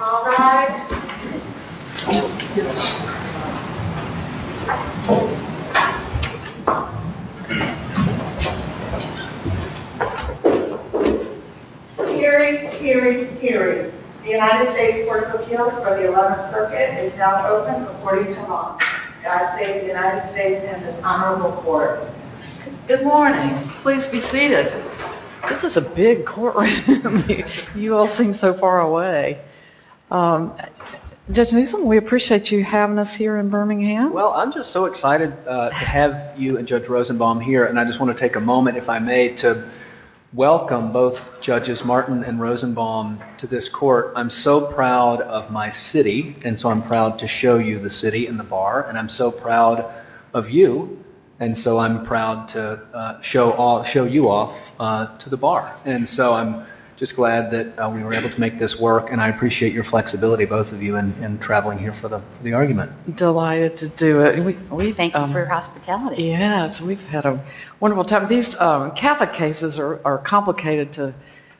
All rise. Hear ye, hear ye, hear ye. The United States Court of Appeals for the 11th Circuit is now open according to law. God save the United States and this honorable court. Good morning. Please be seated. This is a big courtroom. You all seem so far away. Judge Newsom, we appreciate you having us here in Birmingham. Well, I'm just so excited to have you and Judge Rosenbaum here, and I just want to take a moment, if I may, to welcome both Judges Martin and Rosenbaum to this court. I'm so proud of my city, and so I'm proud to show you the city and the bar, and I'm so proud of you, and so I'm proud to show you off to the bar. And so I'm just glad that we were able to make this work, and I appreciate your flexibility, both of you, in traveling here for the argument. Delighted to do it. Thank you for your hospitality. Yes, we've had a wonderful time. These Catholic cases are complicated to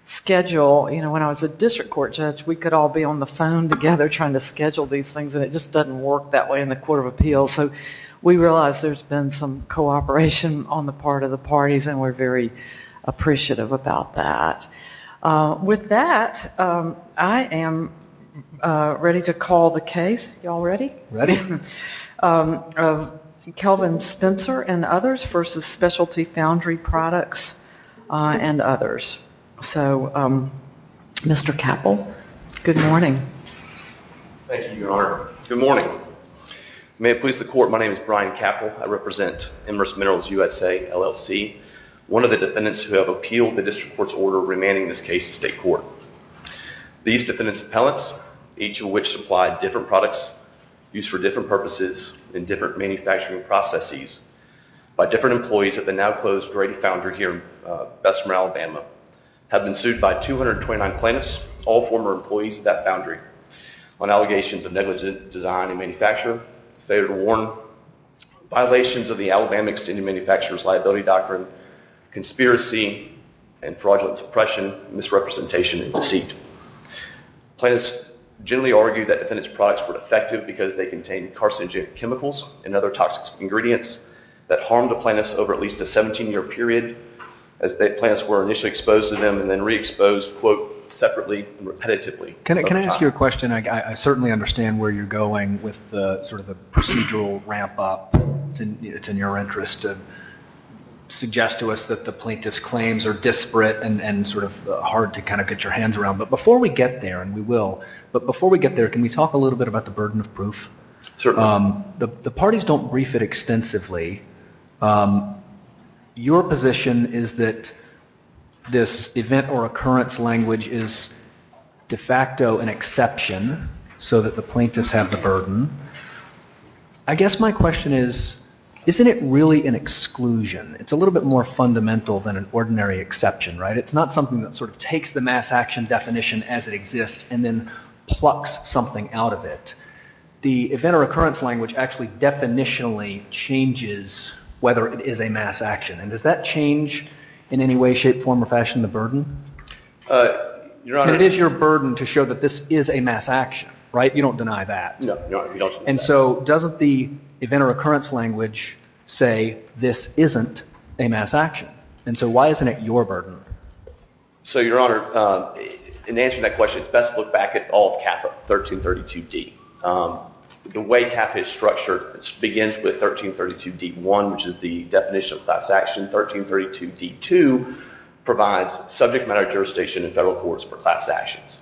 schedule. When I was a district court judge, we could all be on the phone together trying to schedule these things, and it just doesn't work that way in the Court of Appeals, so we realize there's been some cooperation on the part of the parties, and we're very appreciative about that. With that, I am ready to call the case. You all ready? Ready. Kelvin Spencer and others versus Specialty Foundry Products and others. So, Mr. Capple, good morning. Thank you, Your Honor. Good morning. May it please the Court, my name is Brian Capple. I represent Emerus Minerals USA, LLC, one of the defendants who have appealed the district court's order remanding this case to state court. These defendant's appellants, each of which supplied different products used for different purposes in different manufacturing processes, by different employees of the now-closed Grady Foundry here in Bessemer, Alabama, have been sued by 229 plaintiffs, all former employees of that foundry, on allegations of negligent design and manufacture, failure to warn, violations of the Alabama Extended Manufacturer's Liability Doctrine, conspiracy and fraudulent suppression, misrepresentation and deceit. Plaintiffs generally argue that defendants' products were defective because they contained carcinogenic chemicals and other toxic ingredients that harmed the plaintiffs over at least a 17-year period. Plants were initially exposed to them and then re-exposed, quote, separately and repetitively. Can I ask you a question? I certainly understand where you're going with sort of the procedural ramp-up. It's in your interest to suggest to us that the plaintiff's claims are disparate and sort of hard to kind of get your hands around. But before we get there, and we will, but before we get there, can we talk a little bit about the burden of proof? Certainly. The parties don't brief it extensively. Your position is that this event or occurrence language is de facto an exception so that the plaintiffs have the burden. I guess my question is, isn't it really an exclusion? It's a little bit more fundamental than an ordinary exception, right? It's not something that sort of takes the mass action definition as it exists and then plucks something out of it. The event or occurrence language actually definitionally changes whether it is a mass action. And does that change in any way, shape, form, or fashion the burden? It is your burden to show that this is a mass action, right? You don't deny that. No. And so doesn't the event or occurrence language say this isn't a mass action? And so why isn't it your burden? So, Your Honor, in answering that question, it's best to look back at all of CAFA 1332d. The way CAFA is structured begins with 1332d-1, which is the definition of class action. 1332d-2 provides subject matter jurisdiction in federal courts for class actions.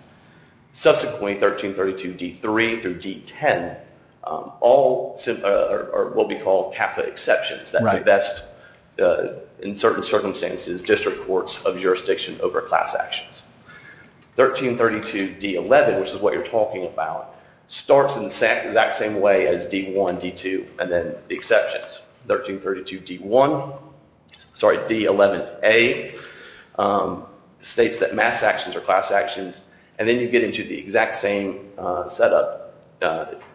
Subsequently, 1332d-3 through d-10 are what we call CAFA exceptions. They best, in certain circumstances, district courts of jurisdiction over class actions. 1332d-11, which is what you're talking about, starts in the exact same way as d-1, d-2, and then the exceptions. 1332d-1 – sorry, d-11a states that mass actions are class actions, and then you get into the exact same setup,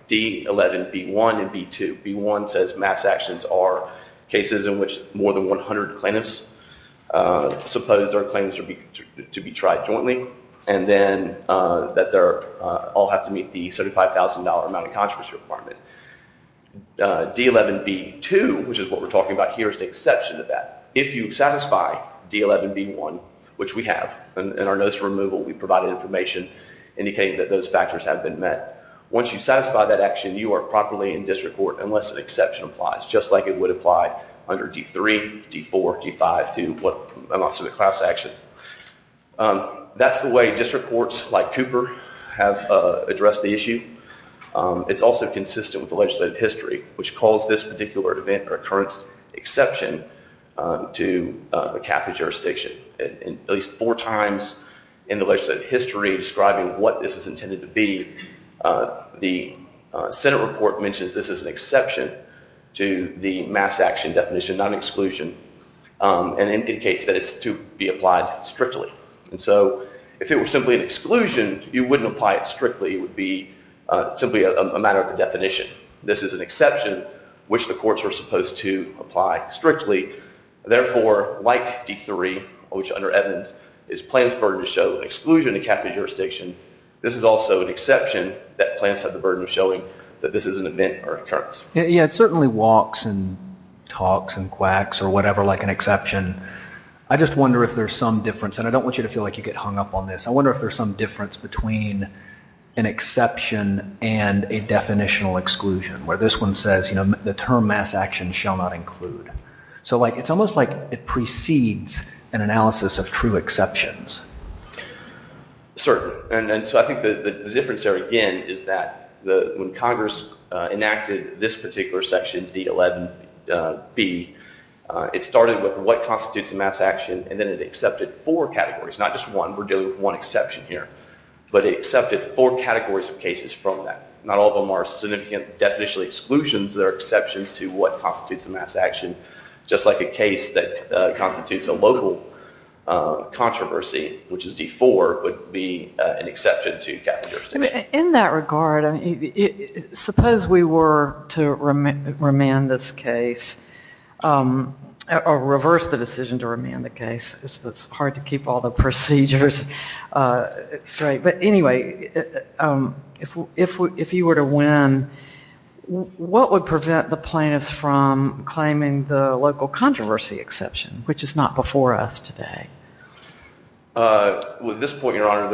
d-11, b-1, and b-2. d-11b-1 says mass actions are cases in which more than 100 plaintiffs suppose their claims to be tried jointly, and then that they all have to meet the $75,000 amount of controversy requirement. d-11b-2, which is what we're talking about here, is the exception to that. If you satisfy d-11b-1, which we have in our notice of removal, we provide information indicating that those factors have been met. Once you satisfy that action, you are properly in district court unless an exception applies, just like it would apply under d-3, d-4, d-5 to what amounts to a class action. That's the way district courts like Cooper have addressed the issue. It's also consistent with the legislative history, which calls this particular event or occurrence exception to a CAFA jurisdiction. At least four times in the legislative history describing what this is intended to be, the Senate report mentions this as an exception to the mass action definition, not an exclusion, and indicates that it's to be applied strictly. And so if it were simply an exclusion, you wouldn't apply it strictly. It would be simply a matter of the definition. This is an exception, which the courts are supposed to apply strictly. Therefore, like d-3, which under Edmonds is Plans' burden to show an exclusion to CAFA jurisdiction, this is also an exception that Plans has the burden of showing that this is an event or occurrence. Yeah, it certainly walks and talks and quacks or whatever like an exception. I just wonder if there's some difference, and I don't want you to feel like you get hung up on this. I wonder if there's some difference between an exception and a definitional exclusion where this one says the term mass action shall not include. So it's almost like it precedes an analysis of true exceptions. Certainly, and so I think the difference there again is that when Congress enacted this particular section, d-11b, it started with what constitutes a mass action, and then it accepted four categories, not just one. We're dealing with one exception here, but it accepted four categories of cases from that. Not all of them are significant definitional exclusions. They're exceptions to what constitutes a mass action, just like a case that constitutes a local controversy, which is d-4, would be an exception to CAFA jurisdiction. In that regard, suppose we were to remand this case or reverse the decision to remand the case. It's hard to keep all the procedures straight. But anyway, if you were to win, what would prevent the plaintiffs from claiming the local controversy exception, which is not before us today? At this point, Your Honor,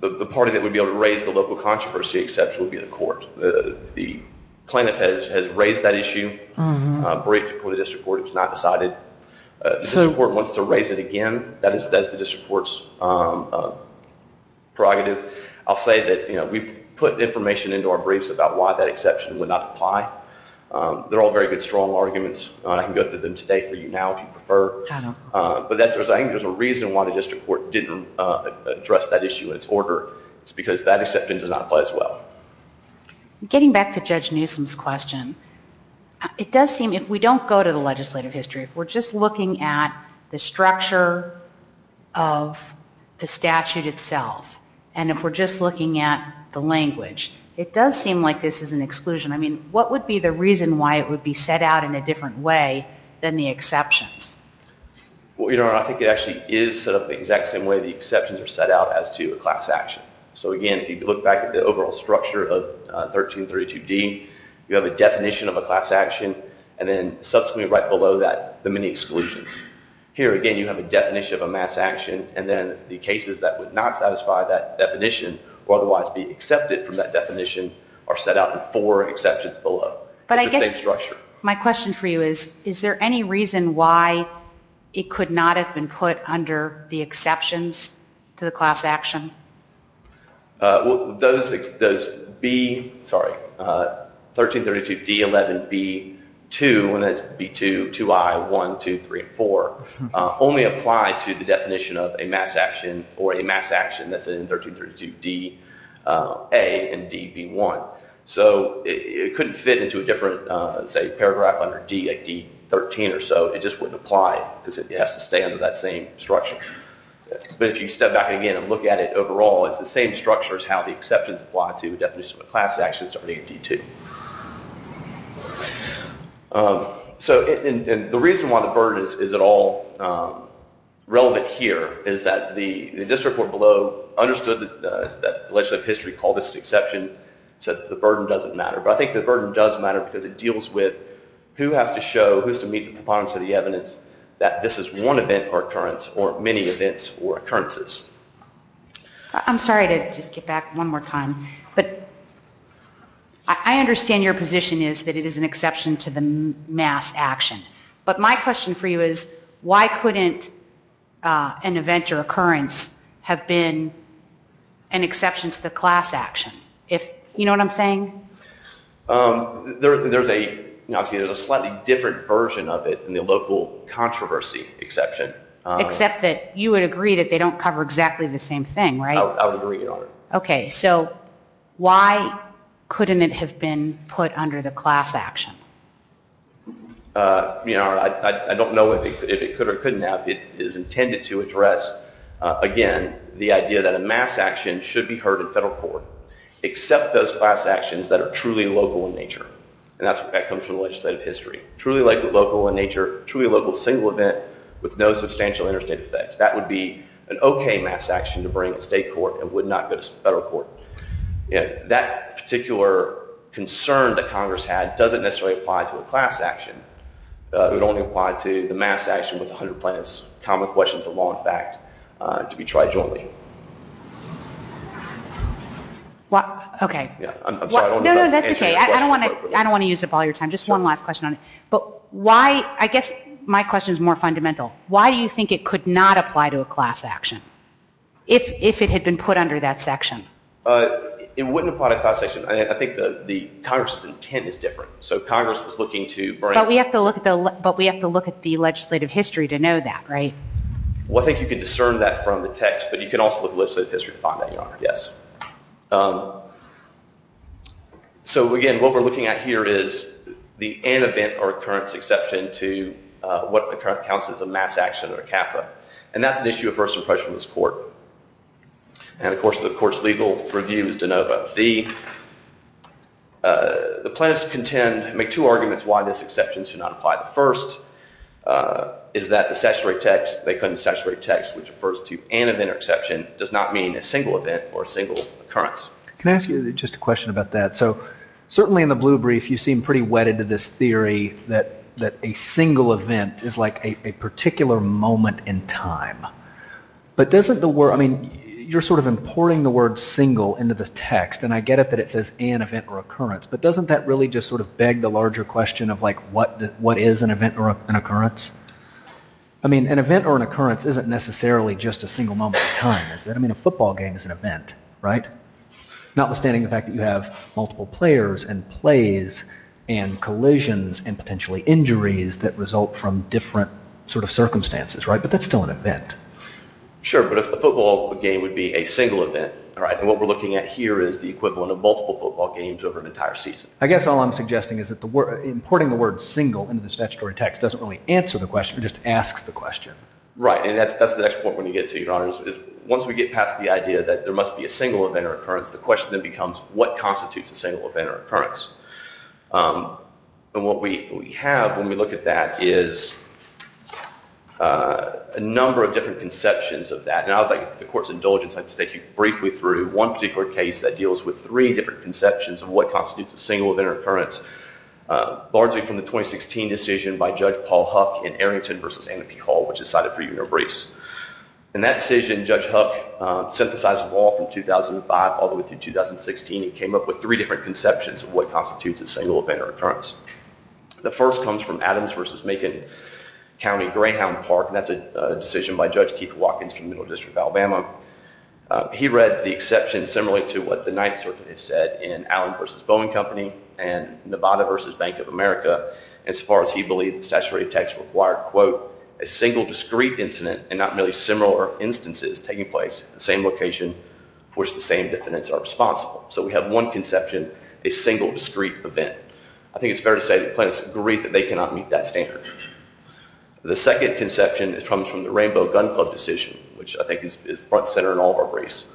the party that would be able to raise the local controversy exception would be the court. The plaintiff has raised that issue. Briefed it before the district court. It's not decided. The district court wants to raise it again. That is the district court's prerogative. I'll say that we've put information into our briefs about why that exception would not apply. They're all very good, strong arguments. I can go through them today for you now if you prefer. But I think there's a reason why the district court didn't address that issue in its order. It's because that exception does not apply as well. Getting back to Judge Newsom's question, it does seem, if we don't go to the legislative history, if we're just looking at the structure of the statute itself, and if we're just looking at the language, it does seem like this is an exclusion. I mean, what would be the reason why it would be set out in a different way than the exceptions? Well, Your Honor, I think it actually is set up the exact same way the exceptions are set out as to a class action. So again, if you look back at the overall structure of 1332D, you have a definition of a class action, and then subsequently right below that, the many exclusions. Here again, you have a definition of a mass action, and then the cases that would not satisfy that definition or otherwise be accepted from that definition are set out in four exceptions below. It's the same structure. But I guess my question for you is, is there any reason why it could not have been put under the exceptions to the class action? Well, those 1332D11B2, and that's B2, 2I, 1, 2, 3, and 4, only apply to the definition of a mass action or a mass action that's in 1332DA and DB1. So it couldn't fit into a different, say, paragraph under D, like D13 or so. It just wouldn't apply because it has to stay under that same structure. But if you step back again and look at it overall, it's the same structure as how the exceptions apply to definitions of a class action starting at D2. So the reason why the burden is at all relevant here is that the district court below understood that the legislative history called this an exception, said the burden doesn't matter. But I think the burden does matter because it deals with who has to show, who has to meet the preponderance of the evidence, that this is one event or occurrence or many events or occurrences. I'm sorry to just get back one more time, but I understand your position is that it is an exception to the mass action. But my question for you is, why couldn't an event or occurrence have been an exception to the class action? You know what I'm saying? There's a slightly different version of it in the local controversy exception. Except that you would agree that they don't cover exactly the same thing, right? I would agree, Your Honor. Okay, so why couldn't it have been put under the class action? I don't know if it could or couldn't have. It is intended to address, again, the idea that a mass action should be heard in federal court. Except those class actions that are truly local in nature. And that comes from legislative history. Truly local in nature, truly local single event with no substantial interstate effects. That would be an okay mass action to bring to state court. It would not go to federal court. That particular concern that Congress had doesn't necessarily apply to a class action. It would only apply to the mass action with 100 plaintiffs, common questions of law and fact, to be tried jointly. Okay. No, no, that's okay. I don't want to use up all your time. Just one last question on it. I guess my question is more fundamental. Why do you think it could not apply to a class action if it had been put under that section? It wouldn't apply to a class action. I think Congress's intent is different. So Congress was looking to bring... But we have to look at the legislative history to know that, right? Well, I think you can discern that from the text. But you can also look at legislative history to find that, Your Honor. Yes. So, again, what we're looking at here is the antevent or occurrence exception to what accounts as a mass action or a CAFA. And that's an issue of first impression in this court. And, of course, the court's legal review is de novo. The plaintiffs contend—make two arguments why this exception should not apply. The first is that the statutory text, they claim the statutory text, which refers to antevent or exception, does not mean a single event or a single occurrence. Can I ask you just a question about that? So certainly in the blue brief, you seem pretty wedded to this theory that a single event is like a particular moment in time. But doesn't the word—I mean, you're sort of importing the word single into the text. And I get it that it says antevent or occurrence. But doesn't that really just sort of beg the larger question of like what is an event or an occurrence? I mean an event or an occurrence isn't necessarily just a single moment in time, is it? I mean a football game is an event, right? Notwithstanding the fact that you have multiple players and plays and collisions and potentially injuries that result from different sort of circumstances, right? But that's still an event. Sure, but a football game would be a single event. All right, and what we're looking at here is the equivalent of multiple football games over an entire season. I guess all I'm suggesting is that importing the word single into the statutory text doesn't really answer the question. It just asks the question. Right, and that's the next point we're going to get to, Your Honors, is once we get past the idea that there must be a single event or occurrence, the question then becomes what constitutes a single event or occurrence? And what we have when we look at that is a number of different conceptions of that. And I would like the Court's indulgence to take you briefly through one particular case that deals with three different conceptions of what constitutes a single event or occurrence. Largely from the 2016 decision by Judge Paul Huck in Arrington v. Anaheim P. Hall, which decided for you no briefs. In that decision, Judge Huck synthesized the law from 2005 all the way through 2016. He came up with three different conceptions of what constitutes a single event or occurrence. The first comes from Adams v. Macon County-Greyhound Park, and that's a decision by Judge Keith Watkins from the Middle District of Alabama. He read the exception similarly to what the Ninth Circuit has said in Allen v. Boeing Company and Nevada v. Bank of America. As far as he believed, the statutory text required, quote, a single discrete incident and not merely similar instances taking place at the same location for which the same defendants are responsible. So we have one conception, a single discrete event. I think it's fair to say the plaintiffs agreed that they cannot meet that standard. The second conception comes from the Rainbow Gun Club decision, which I think is front and center in all of our briefs,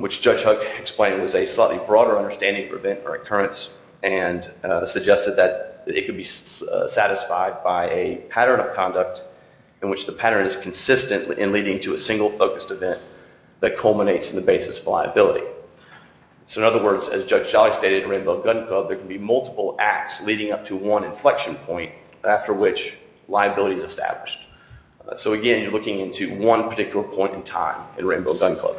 which Judge Huck explained was a slightly broader understanding of event or occurrence and suggested that it could be satisfied by a pattern of conduct in which the pattern is consistent in leading to a single focused event that culminates in the basis of liability. So, in other words, as Judge Jalik stated, in the Rainbow Gun Club, there can be multiple acts leading up to one inflection point after which liability is established. So, again, you're looking into one particular point in time in the Rainbow Gun Club.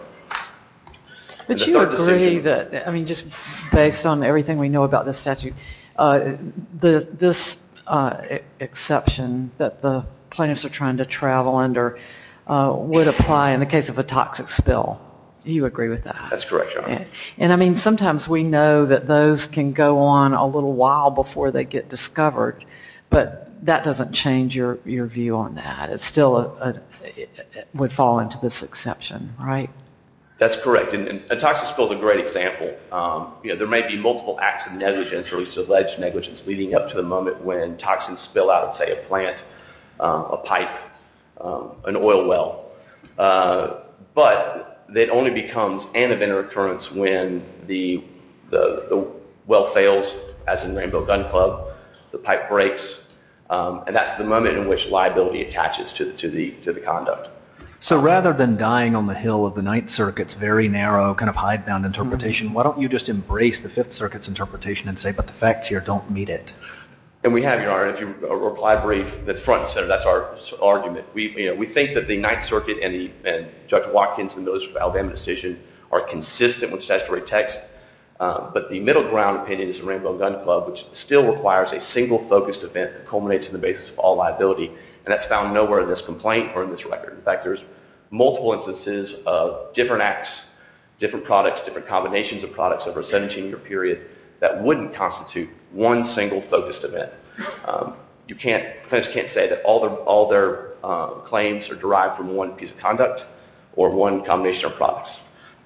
But you agree that, I mean, just based on everything we know about this statute, this exception that the plaintiffs are trying to travel under would apply in the case of a toxic spill. You agree with that? That's correct, Your Honor. And, I mean, sometimes we know that those can go on a little while before they get discovered, but that doesn't change your view on that. It still would fall into this exception, right? That's correct, and a toxic spill is a great example. There may be multiple acts of negligence or alleged negligence leading up to the moment when toxins spill out of, say, a plant, a pipe, an oil well. But it only becomes an event of occurrence when the well fails, as in Rainbow Gun Club, the pipe breaks, and that's the moment in which liability attaches to the conduct. So rather than dying on the hill of the Ninth Circuit's very narrow kind of hidebound interpretation, why don't you just embrace the Fifth Circuit's interpretation and say, but the facts here don't meet it? And we have, Your Honor, if you reply brief, that's front and center. That's our argument. We think that the Ninth Circuit and Judge Watkins and those from Alabama's decision are consistent with statutory text, but the middle ground opinion is the Rainbow Gun Club, which still requires a single focused event that culminates in the basis of all liability, and that's found nowhere in this complaint or in this record. In fact, there's multiple instances of different acts, different products, different combinations of products over a 17-year period that wouldn't constitute one single focused event. You can't, plaintiffs can't say that all their claims are derived from one piece of conduct or one combination of products,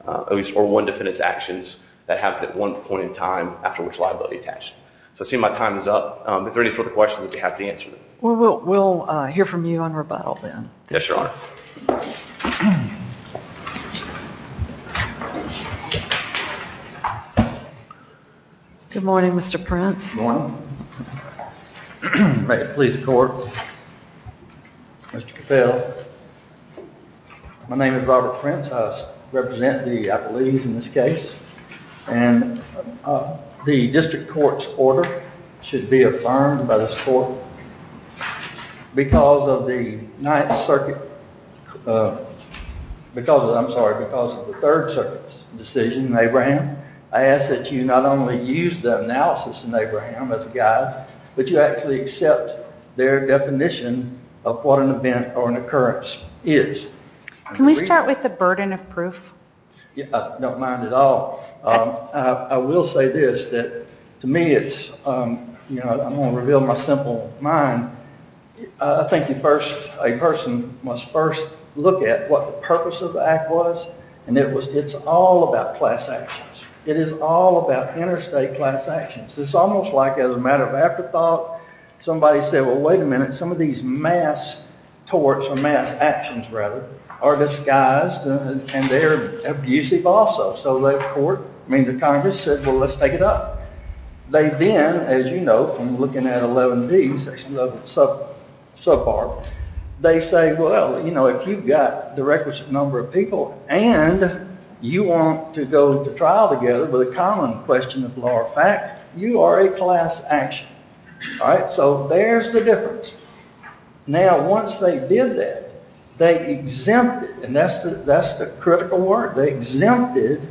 or one defendant's actions that happened at one point in time after which liability attached. So I see my time is up. If there are any further questions, I'd be happy to answer them. Well, we'll hear from you on rebuttal then. Yes, Your Honor. Good morning. May it please the Court. Mr. Capel. My name is Robert Prince. I represent the, I believe, in this case. And the District Court's order should be affirmed by this Court because of the Ninth Circuit, because of, I'm sorry, because of the Third Circuit's decision in Abraham. I ask that you not only use the analysis in Abraham as a guide, but you actually accept their definition of what an event or an occurrence is. Can we start with the burden of proof? I don't mind at all. I will say this, that to me it's, you know, I'm going to reveal my simple mind. I think a person must first look at what the purpose of the act was, and it's all about class actions. It is all about interstate class actions. It's almost like as a matter of afterthought, somebody said, well, wait a minute, some of these mass torts, or mass actions rather, are disguised and they're abusive also. So the Court, I mean, the Congress said, well, let's take it up. They then, as you know from looking at 11D, Section 11 subpart, they say, well, you know, if you've got the requisite number of people and you want to go to trial together with a common question of law or fact, you are a class action. All right? So there's the difference. Now, once they did that, they exempted, and that's the critical word, they exempted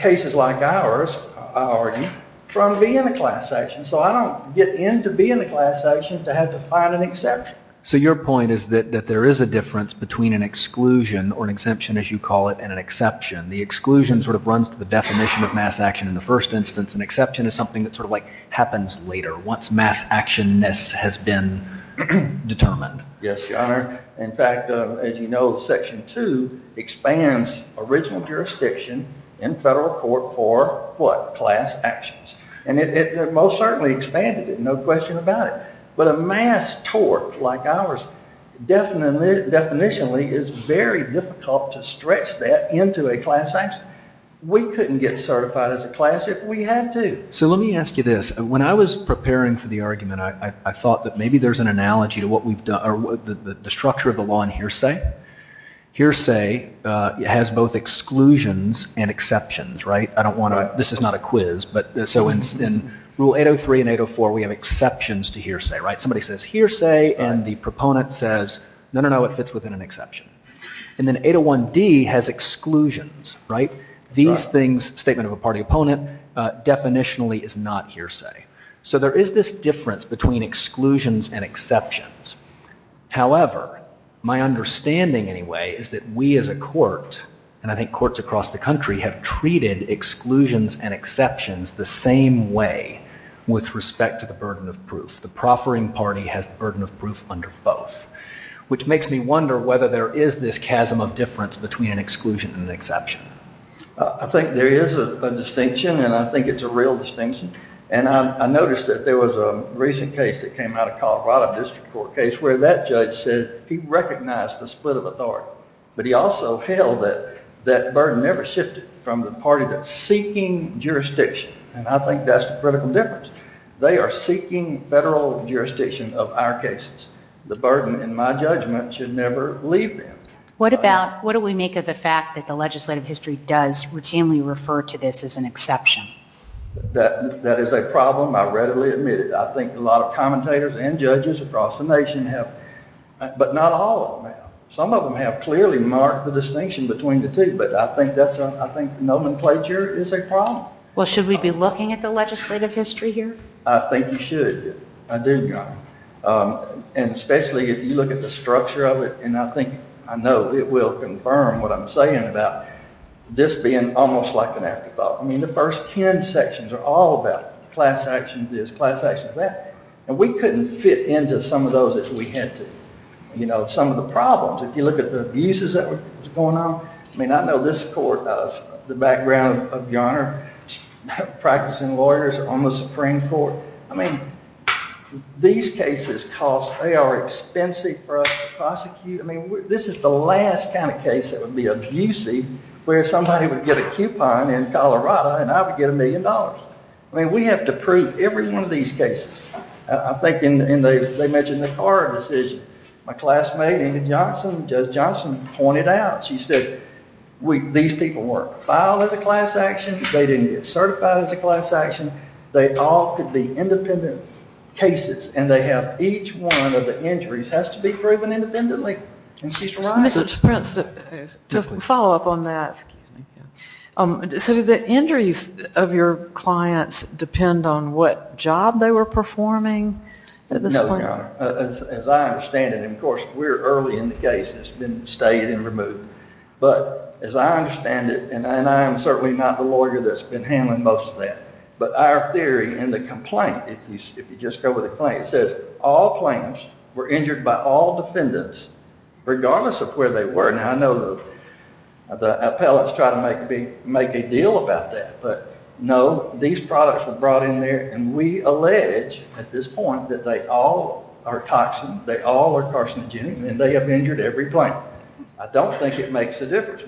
cases like ours, I argue, from being a class action. So I don't get into being a class action to have to find an exception. So your point is that there is a difference between an exclusion, or an exemption as you call it, and an exception. The exclusion sort of runs to the definition of mass action in the first instance. An exception is something that sort of like happens later. Once mass actionness has been determined. Yes, Your Honor. In fact, as you know, Section 2 expands original jurisdiction in federal court for what? Class actions. And it most certainly expanded it, no question about it. But a mass tort like ours, definitionally, is very difficult to stretch that into a class action. We couldn't get certified as a class if we had to. So let me ask you this. When I was preparing for the argument, I thought that maybe there's an analogy to the structure of the law in hearsay. Hearsay has both exclusions and exceptions, right? This is not a quiz, but so in Rule 803 and 804, we have exceptions to hearsay, right? Somebody says hearsay, and the proponent says, no, no, no, it fits within an exception. And then 801D has exclusions, right? These things, statement of a party opponent, definitionally is not hearsay. So there is this difference between exclusions and exceptions. However, my understanding anyway is that we as a court, and I think courts across the country, have treated exclusions and exceptions the same way with respect to the burden of proof. The proffering party has the burden of proof under both. Which makes me wonder whether there is this chasm of difference between an exclusion and an exception. I think there is a distinction, and I think it's a real distinction. And I noticed that there was a recent case that came out of Colorado District Court case where that judge said he recognized the split of authority. But he also held that that burden never shifted from the party that's seeking jurisdiction. And I think that's the critical difference. They are seeking federal jurisdiction of our cases. The burden, in my judgment, should never leave them. What about, what do we make of the fact that the legislative history does routinely refer to this as an exception? That is a problem, I readily admit it. I think a lot of commentators and judges across the nation have, but not all of them. Some of them have clearly marked the distinction between the two, but I think that's a, I think nomenclature is a problem. Well, should we be looking at the legislative history here? I think you should. I do. And especially if you look at the structure of it, and I think, I know it will confirm what I'm saying about this being almost like an afterthought. I mean, the first ten sections are all about class action this, class action that. And we couldn't fit into some of those if we had to. You know, some of the problems, if you look at the abuses that was going on. I mean, I know this court, the background of your honor, practicing lawyers on the Supreme Court. I mean, these cases cost, they are expensive for us to prosecute. I mean, this is the last kind of case that would be abusive where somebody would get a coupon in Colorado and I would get a million dollars. I mean, we have to prove every one of these cases. I think, and they mentioned the Carr decision. My classmate, Ava Johnson, Judge Johnson pointed out, she said, these people weren't filed as a class action, they didn't get certified as a class action. They all could be independent cases, and they have each one of the injuries has to be proven independently. And she's right. Mr. Prince, to follow up on that, so do the injuries of your clients depend on what job they were performing? No, your honor. As I understand it, and of course, we're early in the case, it's been stated and removed. But as I understand it, and I am certainly not the lawyer that's been handling most of that. But our theory and the complaint, if you just go with the claim, it says all plaintiffs were injured by all defendants, regardless of where they were. Now, I know the appellate's trying to make a deal about that. But no, these products were brought in there, and we allege at this point that they all are toxins, they all are carcinogenic, and they have injured every plaintiff. I don't think it makes a difference.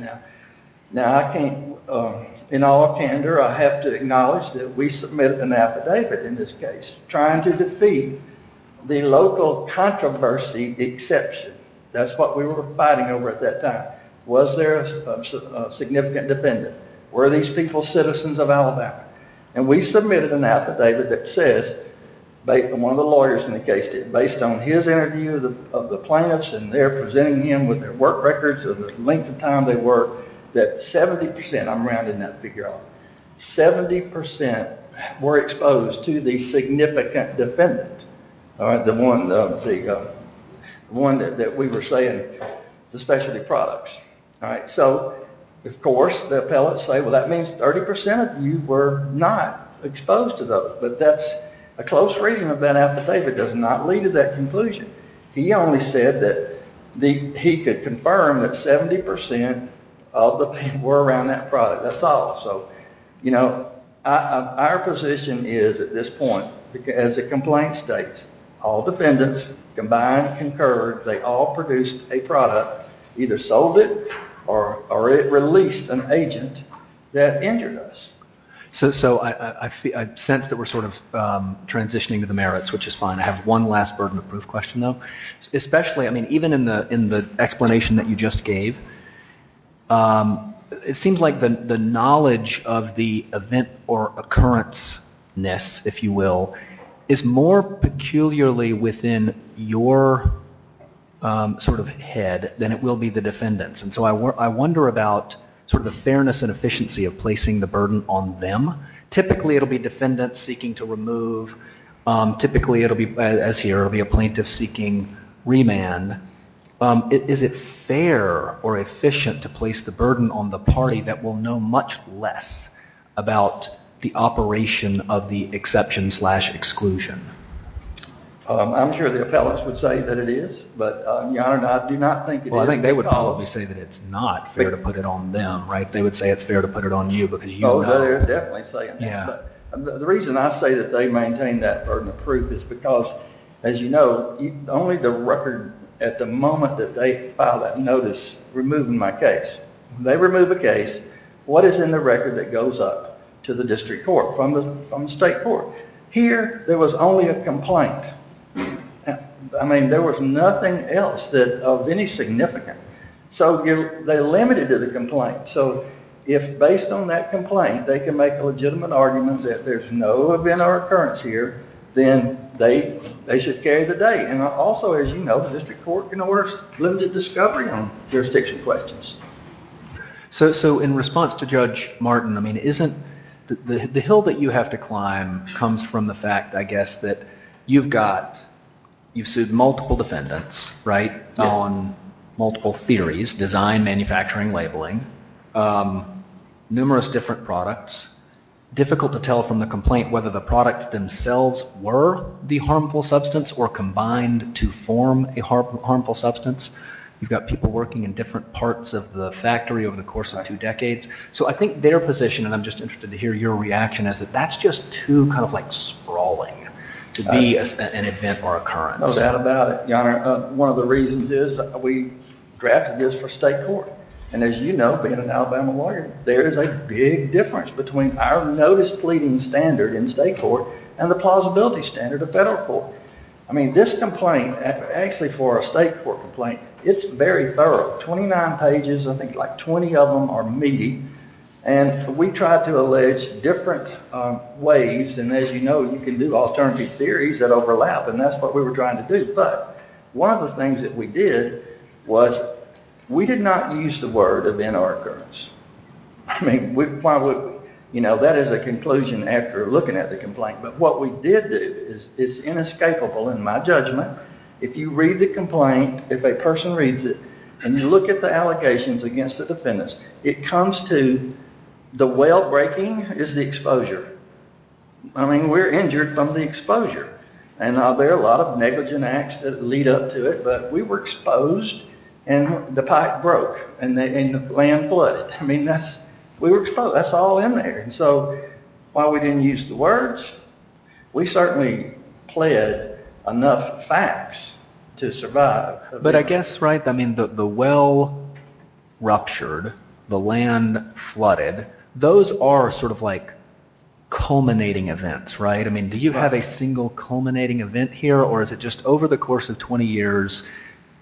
Now, in all candor, I have to acknowledge that we submitted an affidavit in this case, trying to defeat the local controversy exception. That's what we were fighting over at that time. Was there a significant defendant? Were these people citizens of Alabama? And we submitted an affidavit that says, one of the lawyers in the case did, based on his interview of the plaintiffs, and they're presenting him with their work records of the length of time they worked, that 70%, I'm rounding that figure off, 70% were exposed to the significant defendant, the one that we were saying, the specialty products. So, of course, the appellate said, well, that means 30% of you were not exposed to those. But that's a close reading of that affidavit does not lead to that conclusion. He only said that he could confirm that 70% of the people were around that product. That's all. So, you know, our position is at this point, as the complaint states, all defendants combined, concurred, they all produced a product, either sold it or it released an agent that injured us. So I sense that we're sort of transitioning to the merits, which is fine. I have one last burden of proof question, though. Especially, I mean, even in the explanation that you just gave, it seems like the knowledge of the event or occurrence-ness, if you will, is more peculiarly within your sort of head than it will be the defendant's. And so I wonder about sort of the fairness and efficiency of placing the burden on them. Typically, it'll be defendants seeking to remove. Typically, it'll be, as here, it'll be a plaintiff seeking remand. Is it fair or efficient to place the burden on the party that will know much less about the operation of the exception-slash-exclusion? I'm sure the appellants would say that it is, but, Your Honor, I do not think it is. Well, I think they would probably say that it's not fair to put it on them, right? They would say it's fair to put it on you because you know. Oh, they're definitely saying that. The reason I say that they maintain that burden of proof is because, as you know, only the record at the moment that they file that notice removing my case, they remove a case, what is in the record that goes up to the district court, from the state court? Here, there was only a complaint. I mean, there was nothing else of any significance. So they limited to the complaint. So if, based on that complaint, they can make a legitimate argument that there's no event or occurrence here, then they should carry the date. And also, as you know, the district court can order limited discovery on jurisdiction questions. So in response to Judge Martin, I mean, isn't the hill that you have to climb comes from the fact, I guess, that you've got, you've sued multiple defendants, right, on multiple theories, design, manufacturing, labeling, numerous different products. Difficult to tell from the complaint whether the products themselves were the harmful substance or combined to form a harmful substance. You've got people working in different parts of the factory over the course of two decades. So I think their position, and I'm just interested to hear your reaction, is that that's just too kind of sprawling to be an event or occurrence. No doubt about it, Your Honor. One of the reasons is that we drafted this for state court. And as you know, being an Alabama lawyer, there is a big difference between our notice pleading standard in state court and the plausibility standard of federal court. I mean, this complaint, actually for a state court complaint, it's very thorough. 29 pages, I think like 20 of them are meaty. And we tried to allege different ways. And as you know, you can do alternative theories that overlap. And that's what we were trying to do. But one of the things that we did was we did not use the word event or occurrence. I mean, that is a conclusion after looking at the complaint. But what we did do is inescapable in my judgment. If you read the complaint, if a person reads it, and you look at the allocations against the defendants, it comes to the well-breaking is the exposure. I mean, we're injured from the exposure. And there are a lot of negligent acts that lead up to it. But we were exposed, and the pipe broke, and the land flooded. I mean, we were exposed. That's all in there. So while we didn't use the words, we certainly pled enough facts to survive. But I guess, right, I mean, the well ruptured, the land flooded, those are sort of like culminating events, right? I mean, do you have a single culminating event here, or is it just over the course of 20 years,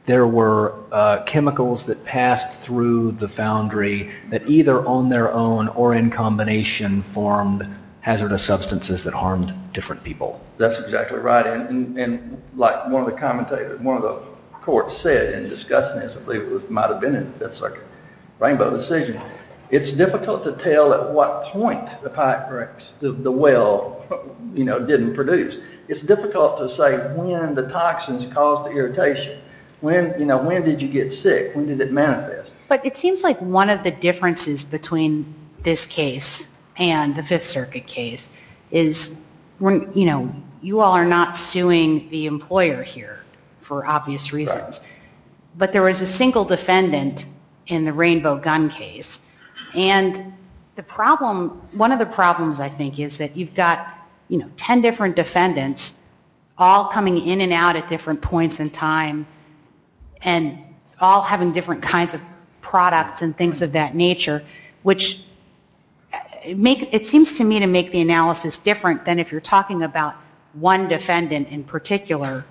there were chemicals that passed through the foundry that either on their own or in combination formed hazardous substances that harmed different people? That's exactly right. And like one of the commentators, one of the courts said in discussing this, I believe it might have been in Fifth Circuit, Rainbow decision, it's difficult to tell at what point the pipe breaks, the well didn't produce. It's difficult to say when the toxins caused the irritation. When did you get sick? When did it manifest? But it seems like one of the differences between this case and the Fifth Circuit case is you all are not suing the employer here for obvious reasons. But there was a single defendant in the Rainbow gun case. And one of the problems, I think, is that you've got 10 different defendants all coming in and out at different points in time and all having different kinds of products and things of that nature, which it seems to me to make the analysis different than if you're talking about one defendant in particular.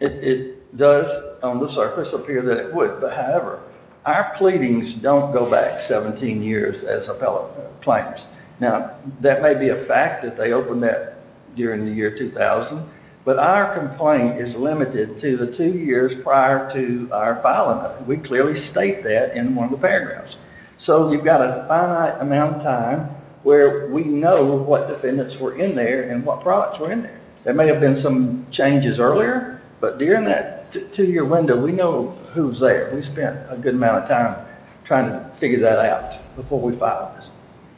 It does on the surface appear that it would, but however, our pleadings don't go back 17 years as appellate claims. Now, that may be a fact that they opened that during the year 2000, but our complaint is limited to the two years prior to our filing it. We clearly state that in one of the paragraphs. So you've got a finite amount of time where we know what defendants were in there and what products were in there. There may have been some changes earlier, but during that two-year window, we know who's there. We spent a good amount of time trying to figure that out before we filed this.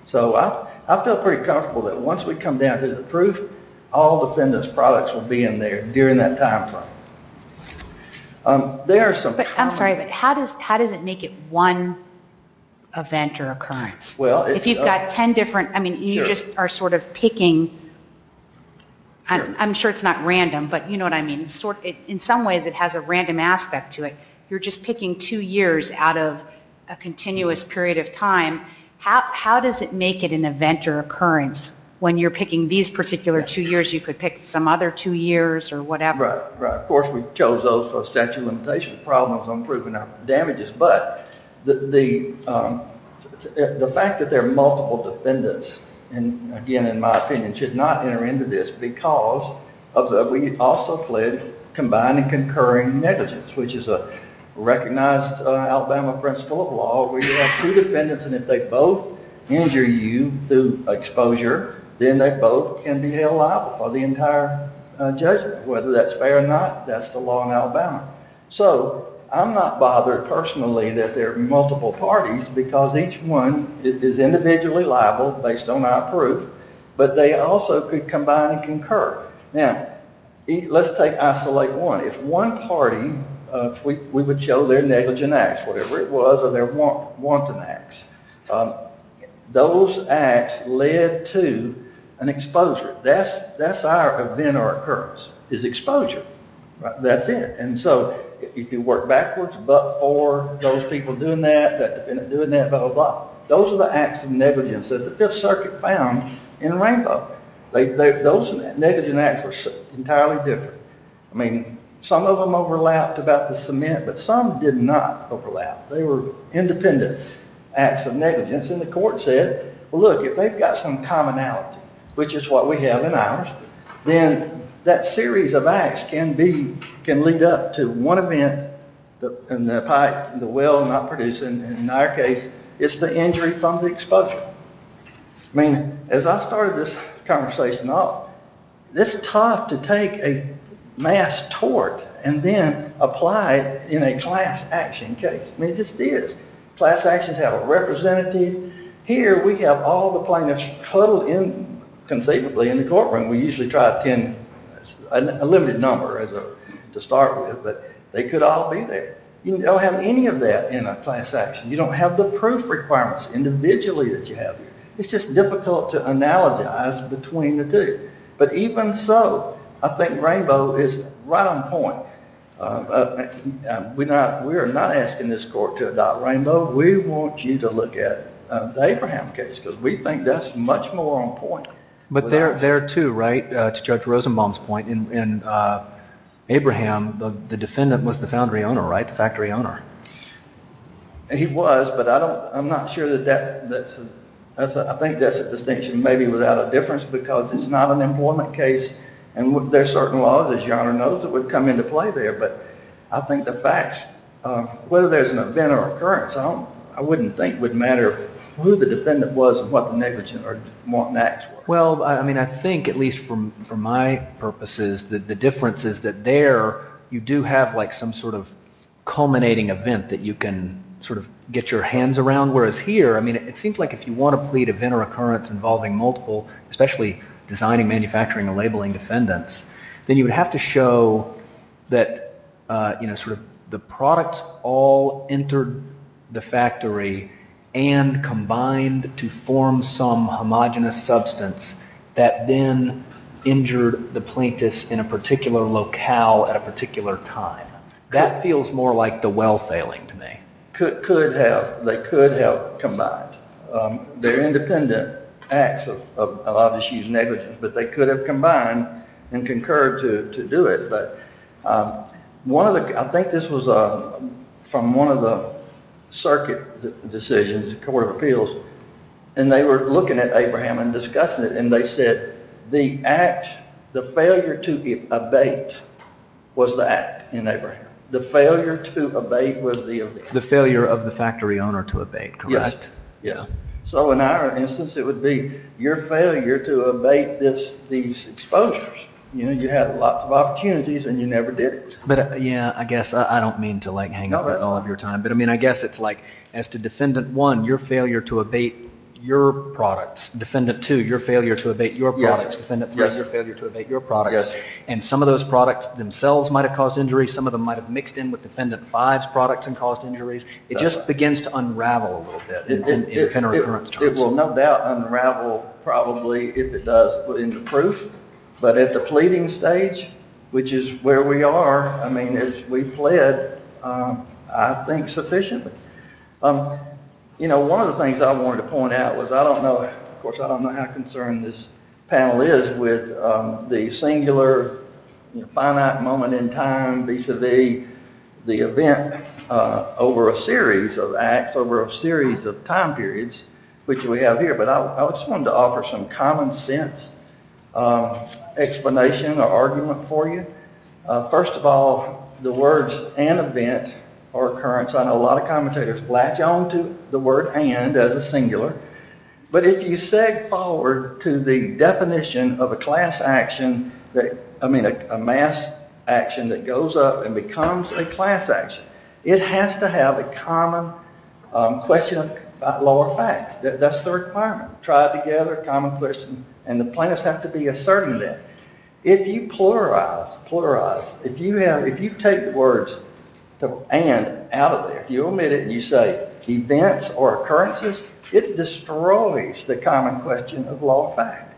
So I feel pretty comfortable that once we come down to the proof, all defendants' products will be in there during that time frame. I'm sorry, but how does it make it one event or occurrence? If you've got ten different... I mean, you just are sort of picking... I'm sure it's not random, but you know what I mean. In some ways, it has a random aspect to it. You're just picking two years out of a continuous period of time. How does it make it an event or occurrence when you're picking these particular two years? You could pick some other two years or whatever. Right. Of course, we chose those for statute of limitations problems on proving our damages. But the fact that there are multiple defendants, again, in my opinion, should not enter into this because we also pledge combined and concurring negligence, which is a recognized Alabama principle of law where you have two defendants, and if they both injure you through exposure, then they both can be held liable for the entire judgment. Whether that's fair or not, that's the law in Alabama. So I'm not bothered personally that there are multiple parties because each one is individually liable based on our proof, but they also could combine and concur. Now, let's take isolate one. If one party... We would show their negligent acts, whatever it was, or their wanton acts. Those acts led to an exposure. That's our event or occurrence, is exposure. That's it. And so if you work backwards, but for those people doing that, that defendant doing that, blah, blah, blah, those are the acts of negligence that the Fifth Circuit found in Rainbow. Those negligent acts were entirely different. I mean, some of them overlapped about the cement, but some did not overlap. They were independent acts of negligence, and the court said, well, look, if they've got some commonality, which is what we have in ours, then that series of acts can lead up to one event in the pipe, the well not producing, and in our case, it's the injury from the exposure. I mean, as I started this conversation off, it's tough to take a mass tort and then apply it in a class action case. I mean, it just is. Class actions have a representative. Here we have all the plaintiffs huddled in conceivably in the courtroom. We usually try a limited number to start with, but they could all be there. You don't have any of that in a class action. You don't have the proof requirements individually that you have. It's just difficult to analogize between the two. But even so, I think Rainbow is right on point. We are not asking this court to adopt Rainbow. We want you to look at the Abraham case because we think that's much more on point. But there, too, right, to Judge Rosenbaum's point, in Abraham, the defendant was the foundry owner, right, the factory owner? He was, but I'm not sure that that's a distinction, maybe without a difference because it's not an employment case and there are certain laws, as Your Honor knows, that would come into play there. But I think the facts, whether there's an event or occurrence, I wouldn't think would matter who the defendant was and what the negligence or what the acts were. Well, I mean, I think, at least for my purposes, that the difference is that there you do have, like, some sort of culminating event that you can sort of get your hands around, whereas here, I mean, it seems like if you want to plead event or occurrence involving multiple, especially designing, manufacturing, or labeling defendants, then you would have to show that, you know, sort of the product all entered the factory and combined to form some homogenous substance that then injured the plaintiffs in a particular locale at a particular time. That feels more like the well failing to me. Could have. They could have combined. They're independent acts of a lot of issues, negligence, but they could have combined and concurred to do it. But I think this was from one of the circuit decisions, the Court of Appeals, and they were looking at Abraham and discussing it and they said the act, the failure to abate was the act in Abraham. The failure to abate was the event. The failure of the factory owner to abate, correct? Yeah. So in our instance, it would be your failure to abate these exposures. You know, you had lots of opportunities and you never did it. But, yeah, I guess I don't mean to, like, hang all of your time, but, I mean, I guess it's like as to Defendant 1, your failure to abate your products, Defendant 2, your failure to abate your products, Defendant 3, your failure to abate your products, and some of those products themselves might have caused injuries. Some of them might have mixed in with Defendant 5's products and caused injuries. It just begins to unravel a little bit. It will no doubt unravel, probably, if it does put into proof. But at the pleading stage, which is where we are, I mean, as we pled, I think sufficiently. You know, one of the things I wanted to point out was I don't know, of course I don't know how concerned this panel is with the singular, finite moment in time vis-a-vis the event over a series of acts, over a series of time periods, which we have here, but I just wanted to offer some common sense explanation or argument for you. First of all, the words an event or occurrence, I know a lot of commentators latch on to the word and as a singular, but if you said forward to the definition of a class action, I mean a mass action that goes up and becomes a class action, it has to have a common question of law of fact. That's the requirement. Try it together, common question, and the plaintiffs have to be a certain length. If you pluralize, pluralize, if you take words and out of there, you omit it and you say events or occurrences, it destroys the common question of law of fact.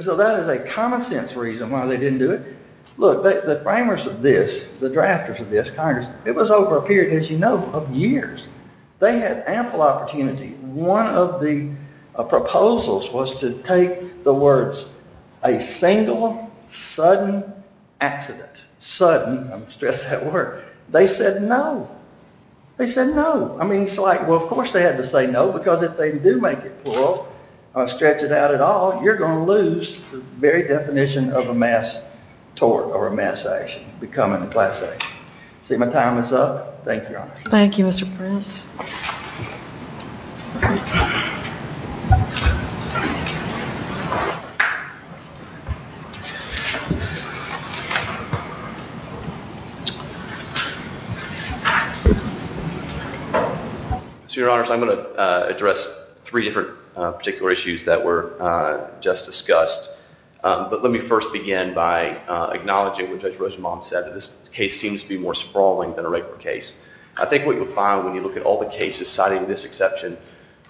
So that is a common sense reason why they didn't do it. Look, the framers of this, the drafters of this, Congress, it was over a period, as you know, of years. They had ample opportunity. One of the proposals was to take the words a single, sudden accident. Sudden, I stress that word. They said no. They said no. I mean, it's like, well, of course they had to say no, because if they do make it plural, stretch it out at all, you're going to lose the very definition of a mass tort or a mass action becoming a class action. See, my time is up. Thank you, Your Honor. Thank you, Mr. Prince. So, Your Honors, I'm going to address three different particular issues that were just discussed. But let me first begin by acknowledging what Judge Rosenbaum said, that this case seems to be more sprawling than a regular case. I think what you'll find when you look at all the cases, citing this exception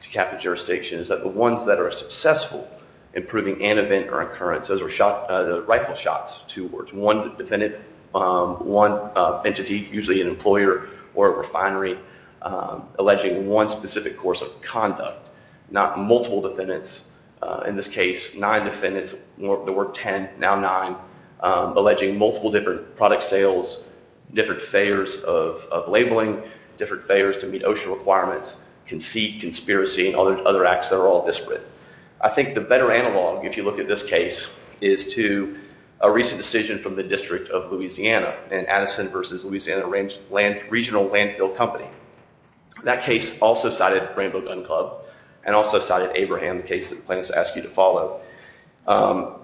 to capital jurisdiction, is that the ones that are successful in proving an event or occurrence, those are the rifle shots, two words, one defendant, one entity, usually an employer or a refinery, alleging one specific course of conduct. Not multiple defendants. In this case, nine defendants. There were ten. Now nine. Alleging multiple different product sales, different fares of labeling, different fares to meet OSHA requirements, conceit, conspiracy, and other acts that are all disparate. I think the better analog, if you look at this case, is to a recent decision from the District of Louisiana in Addison versus Louisiana Regional Landfill Company. That case also cited Rainbow Gun Club and also cited Abraham, the case that the plaintiffs asked you to follow,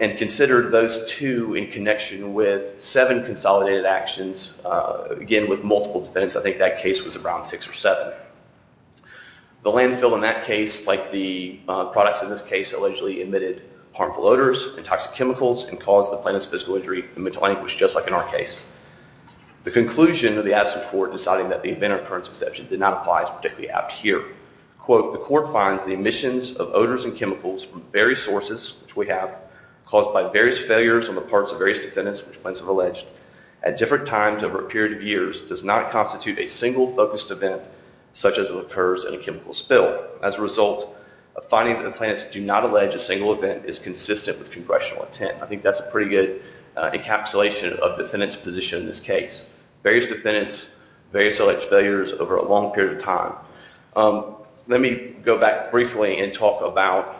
and considered those two in connection with seven consolidated actions, again with multiple defendants. I think that case was around six or seven. The landfill in that case, like the products in this case, allegedly emitted harmful odors and toxic chemicals and caused the plaintiff's physical injury and mental iniquity, just like in our case. The conclusion of the Addison court deciding that the event occurrence exception did not apply is particularly apt here. Quote, the court finds the emissions of odors and chemicals from various sources, which we have, caused by various failures on the parts of various defendants, which the plaintiffs have alleged, at different times over a period of years does not constitute a single focused event such as it occurs in a chemical spill. As a result, a finding that the plaintiffs do not allege a single event is consistent with congressional intent. I think that's a pretty good encapsulation of defendant's position in this case. Various defendants, various alleged failures over a long period of time. Let me go back briefly and talk about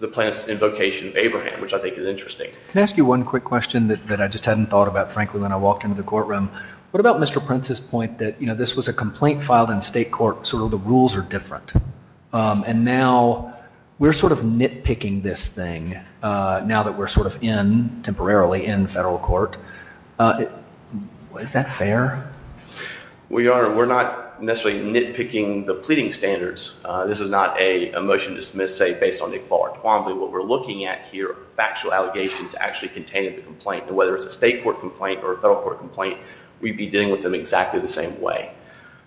the plaintiff's invocation of Abraham, which I think is interesting. Can I ask you one quick question that I just hadn't thought about, frankly, when I walked into the courtroom? What about Mr. Prince's point that, you know, this was a complaint filed in state court, sort of the rules are different, and now we're sort of nitpicking this thing now that we're sort of in, temporarily, in federal court. Is that fair? Well, Your Honor, we're not necessarily nitpicking the pleading standards. This is not a motion to dismiss, say, based on Nick Fowler Twombly. What we're looking at here are factual allegations actually contained in the complaint, and whether it's a state court complaint or a federal court complaint, we'd be dealing with them exactly the same way.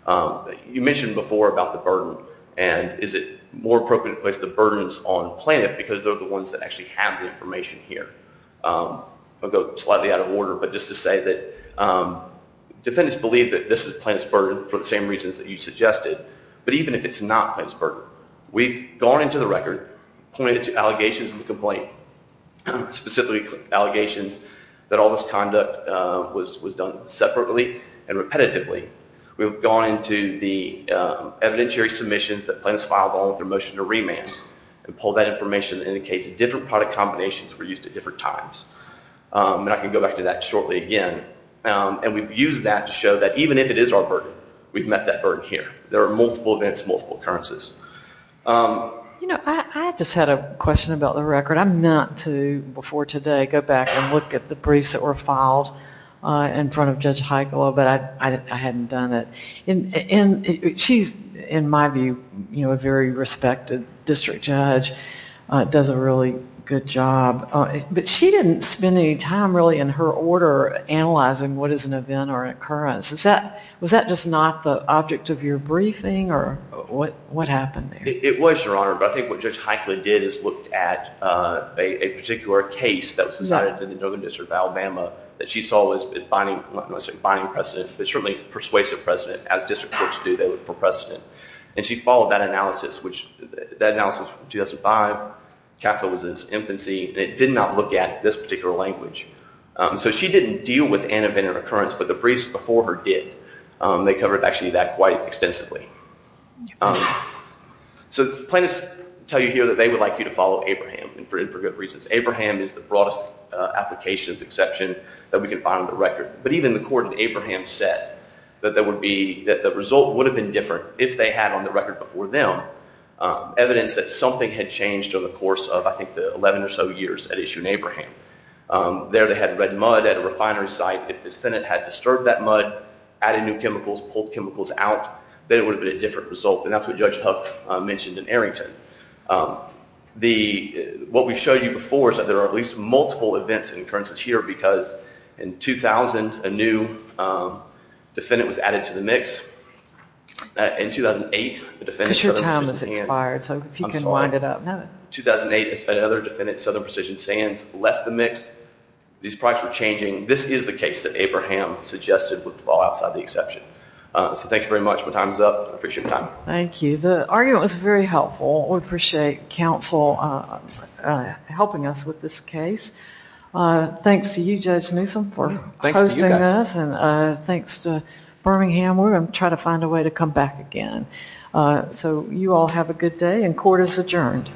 You mentioned before about the burden, and is it more appropriate to place the burdens on the plaintiff because they're the ones that actually have the information here? I'll go slightly out of order, but just to say that defendants believe that this is the plaintiff's burden for the same reasons that you suggested, but even if it's not the plaintiff's burden, we've gone into the record, pointed to allegations in the complaint, specifically allegations that all this conduct was done separately and repetitively. We've gone into the evidentiary submissions that plaintiffs filed along with their motion to remand and pulled that information that indicates different product combinations were used at different times. And I can go back to that shortly again. And we've used that to show that even if it is our burden, we've met that burden here. There are multiple events, multiple occurrences. You know, I just had a question about the record. I'm not to, before today, go back and look at the briefs that were filed in front of Judge Heiglo, but I hadn't done it. She's, in my view, a very respected district judge, does a really good job, but she didn't spend any time really in her order analyzing what is an event or an occurrence. Was that just not the object of your briefing, or what happened there? It was, Your Honor, but I think what Judge Heiglo did is looked at a particular case that was decided in the Duggan District of Alabama that she saw as binding precedent, but certainly persuasive precedent. As district courts do, they look for precedent. And she followed that analysis, which, that analysis from 2005, capitalizes infancy, and it did not look at this particular language. So she didn't deal with an event or occurrence, but the briefs before her did. They covered actually that quite extensively. So plaintiffs tell you here that they would like you to follow Abraham, and for good reasons. Abraham is the broadest applications exception that we can find on the record. But even the court in Abraham said that the result would have been different if they had on the record before them evidence that something had changed over the course of, I think, the 11 or so years at issue in Abraham. There they had red mud at a refinery site. If the defendant had disturbed that mud, added new chemicals, pulled chemicals out, then it would have been a different result, and that's what Judge Hook mentioned in Arrington. What we showed you before is that there are at least multiple events and occurrences here because in 2000, a new defendant was added to the mix. In 2008, the defendant... Because your time has expired, so if you can wind it up. In 2008, another defendant, Southern Precision Sands, left the mix. These products were changing. This is the case that Abraham suggested would fall outside the exception. So thank you very much. My time is up. I appreciate your time. Thank you. The argument was very helpful. We appreciate counsel helping us with this case. Thanks to you, Judge Newsom, for hosting us. Thanks to Birmingham. We're going to try to find a way to come back again. So you all have a good day, and court is adjourned.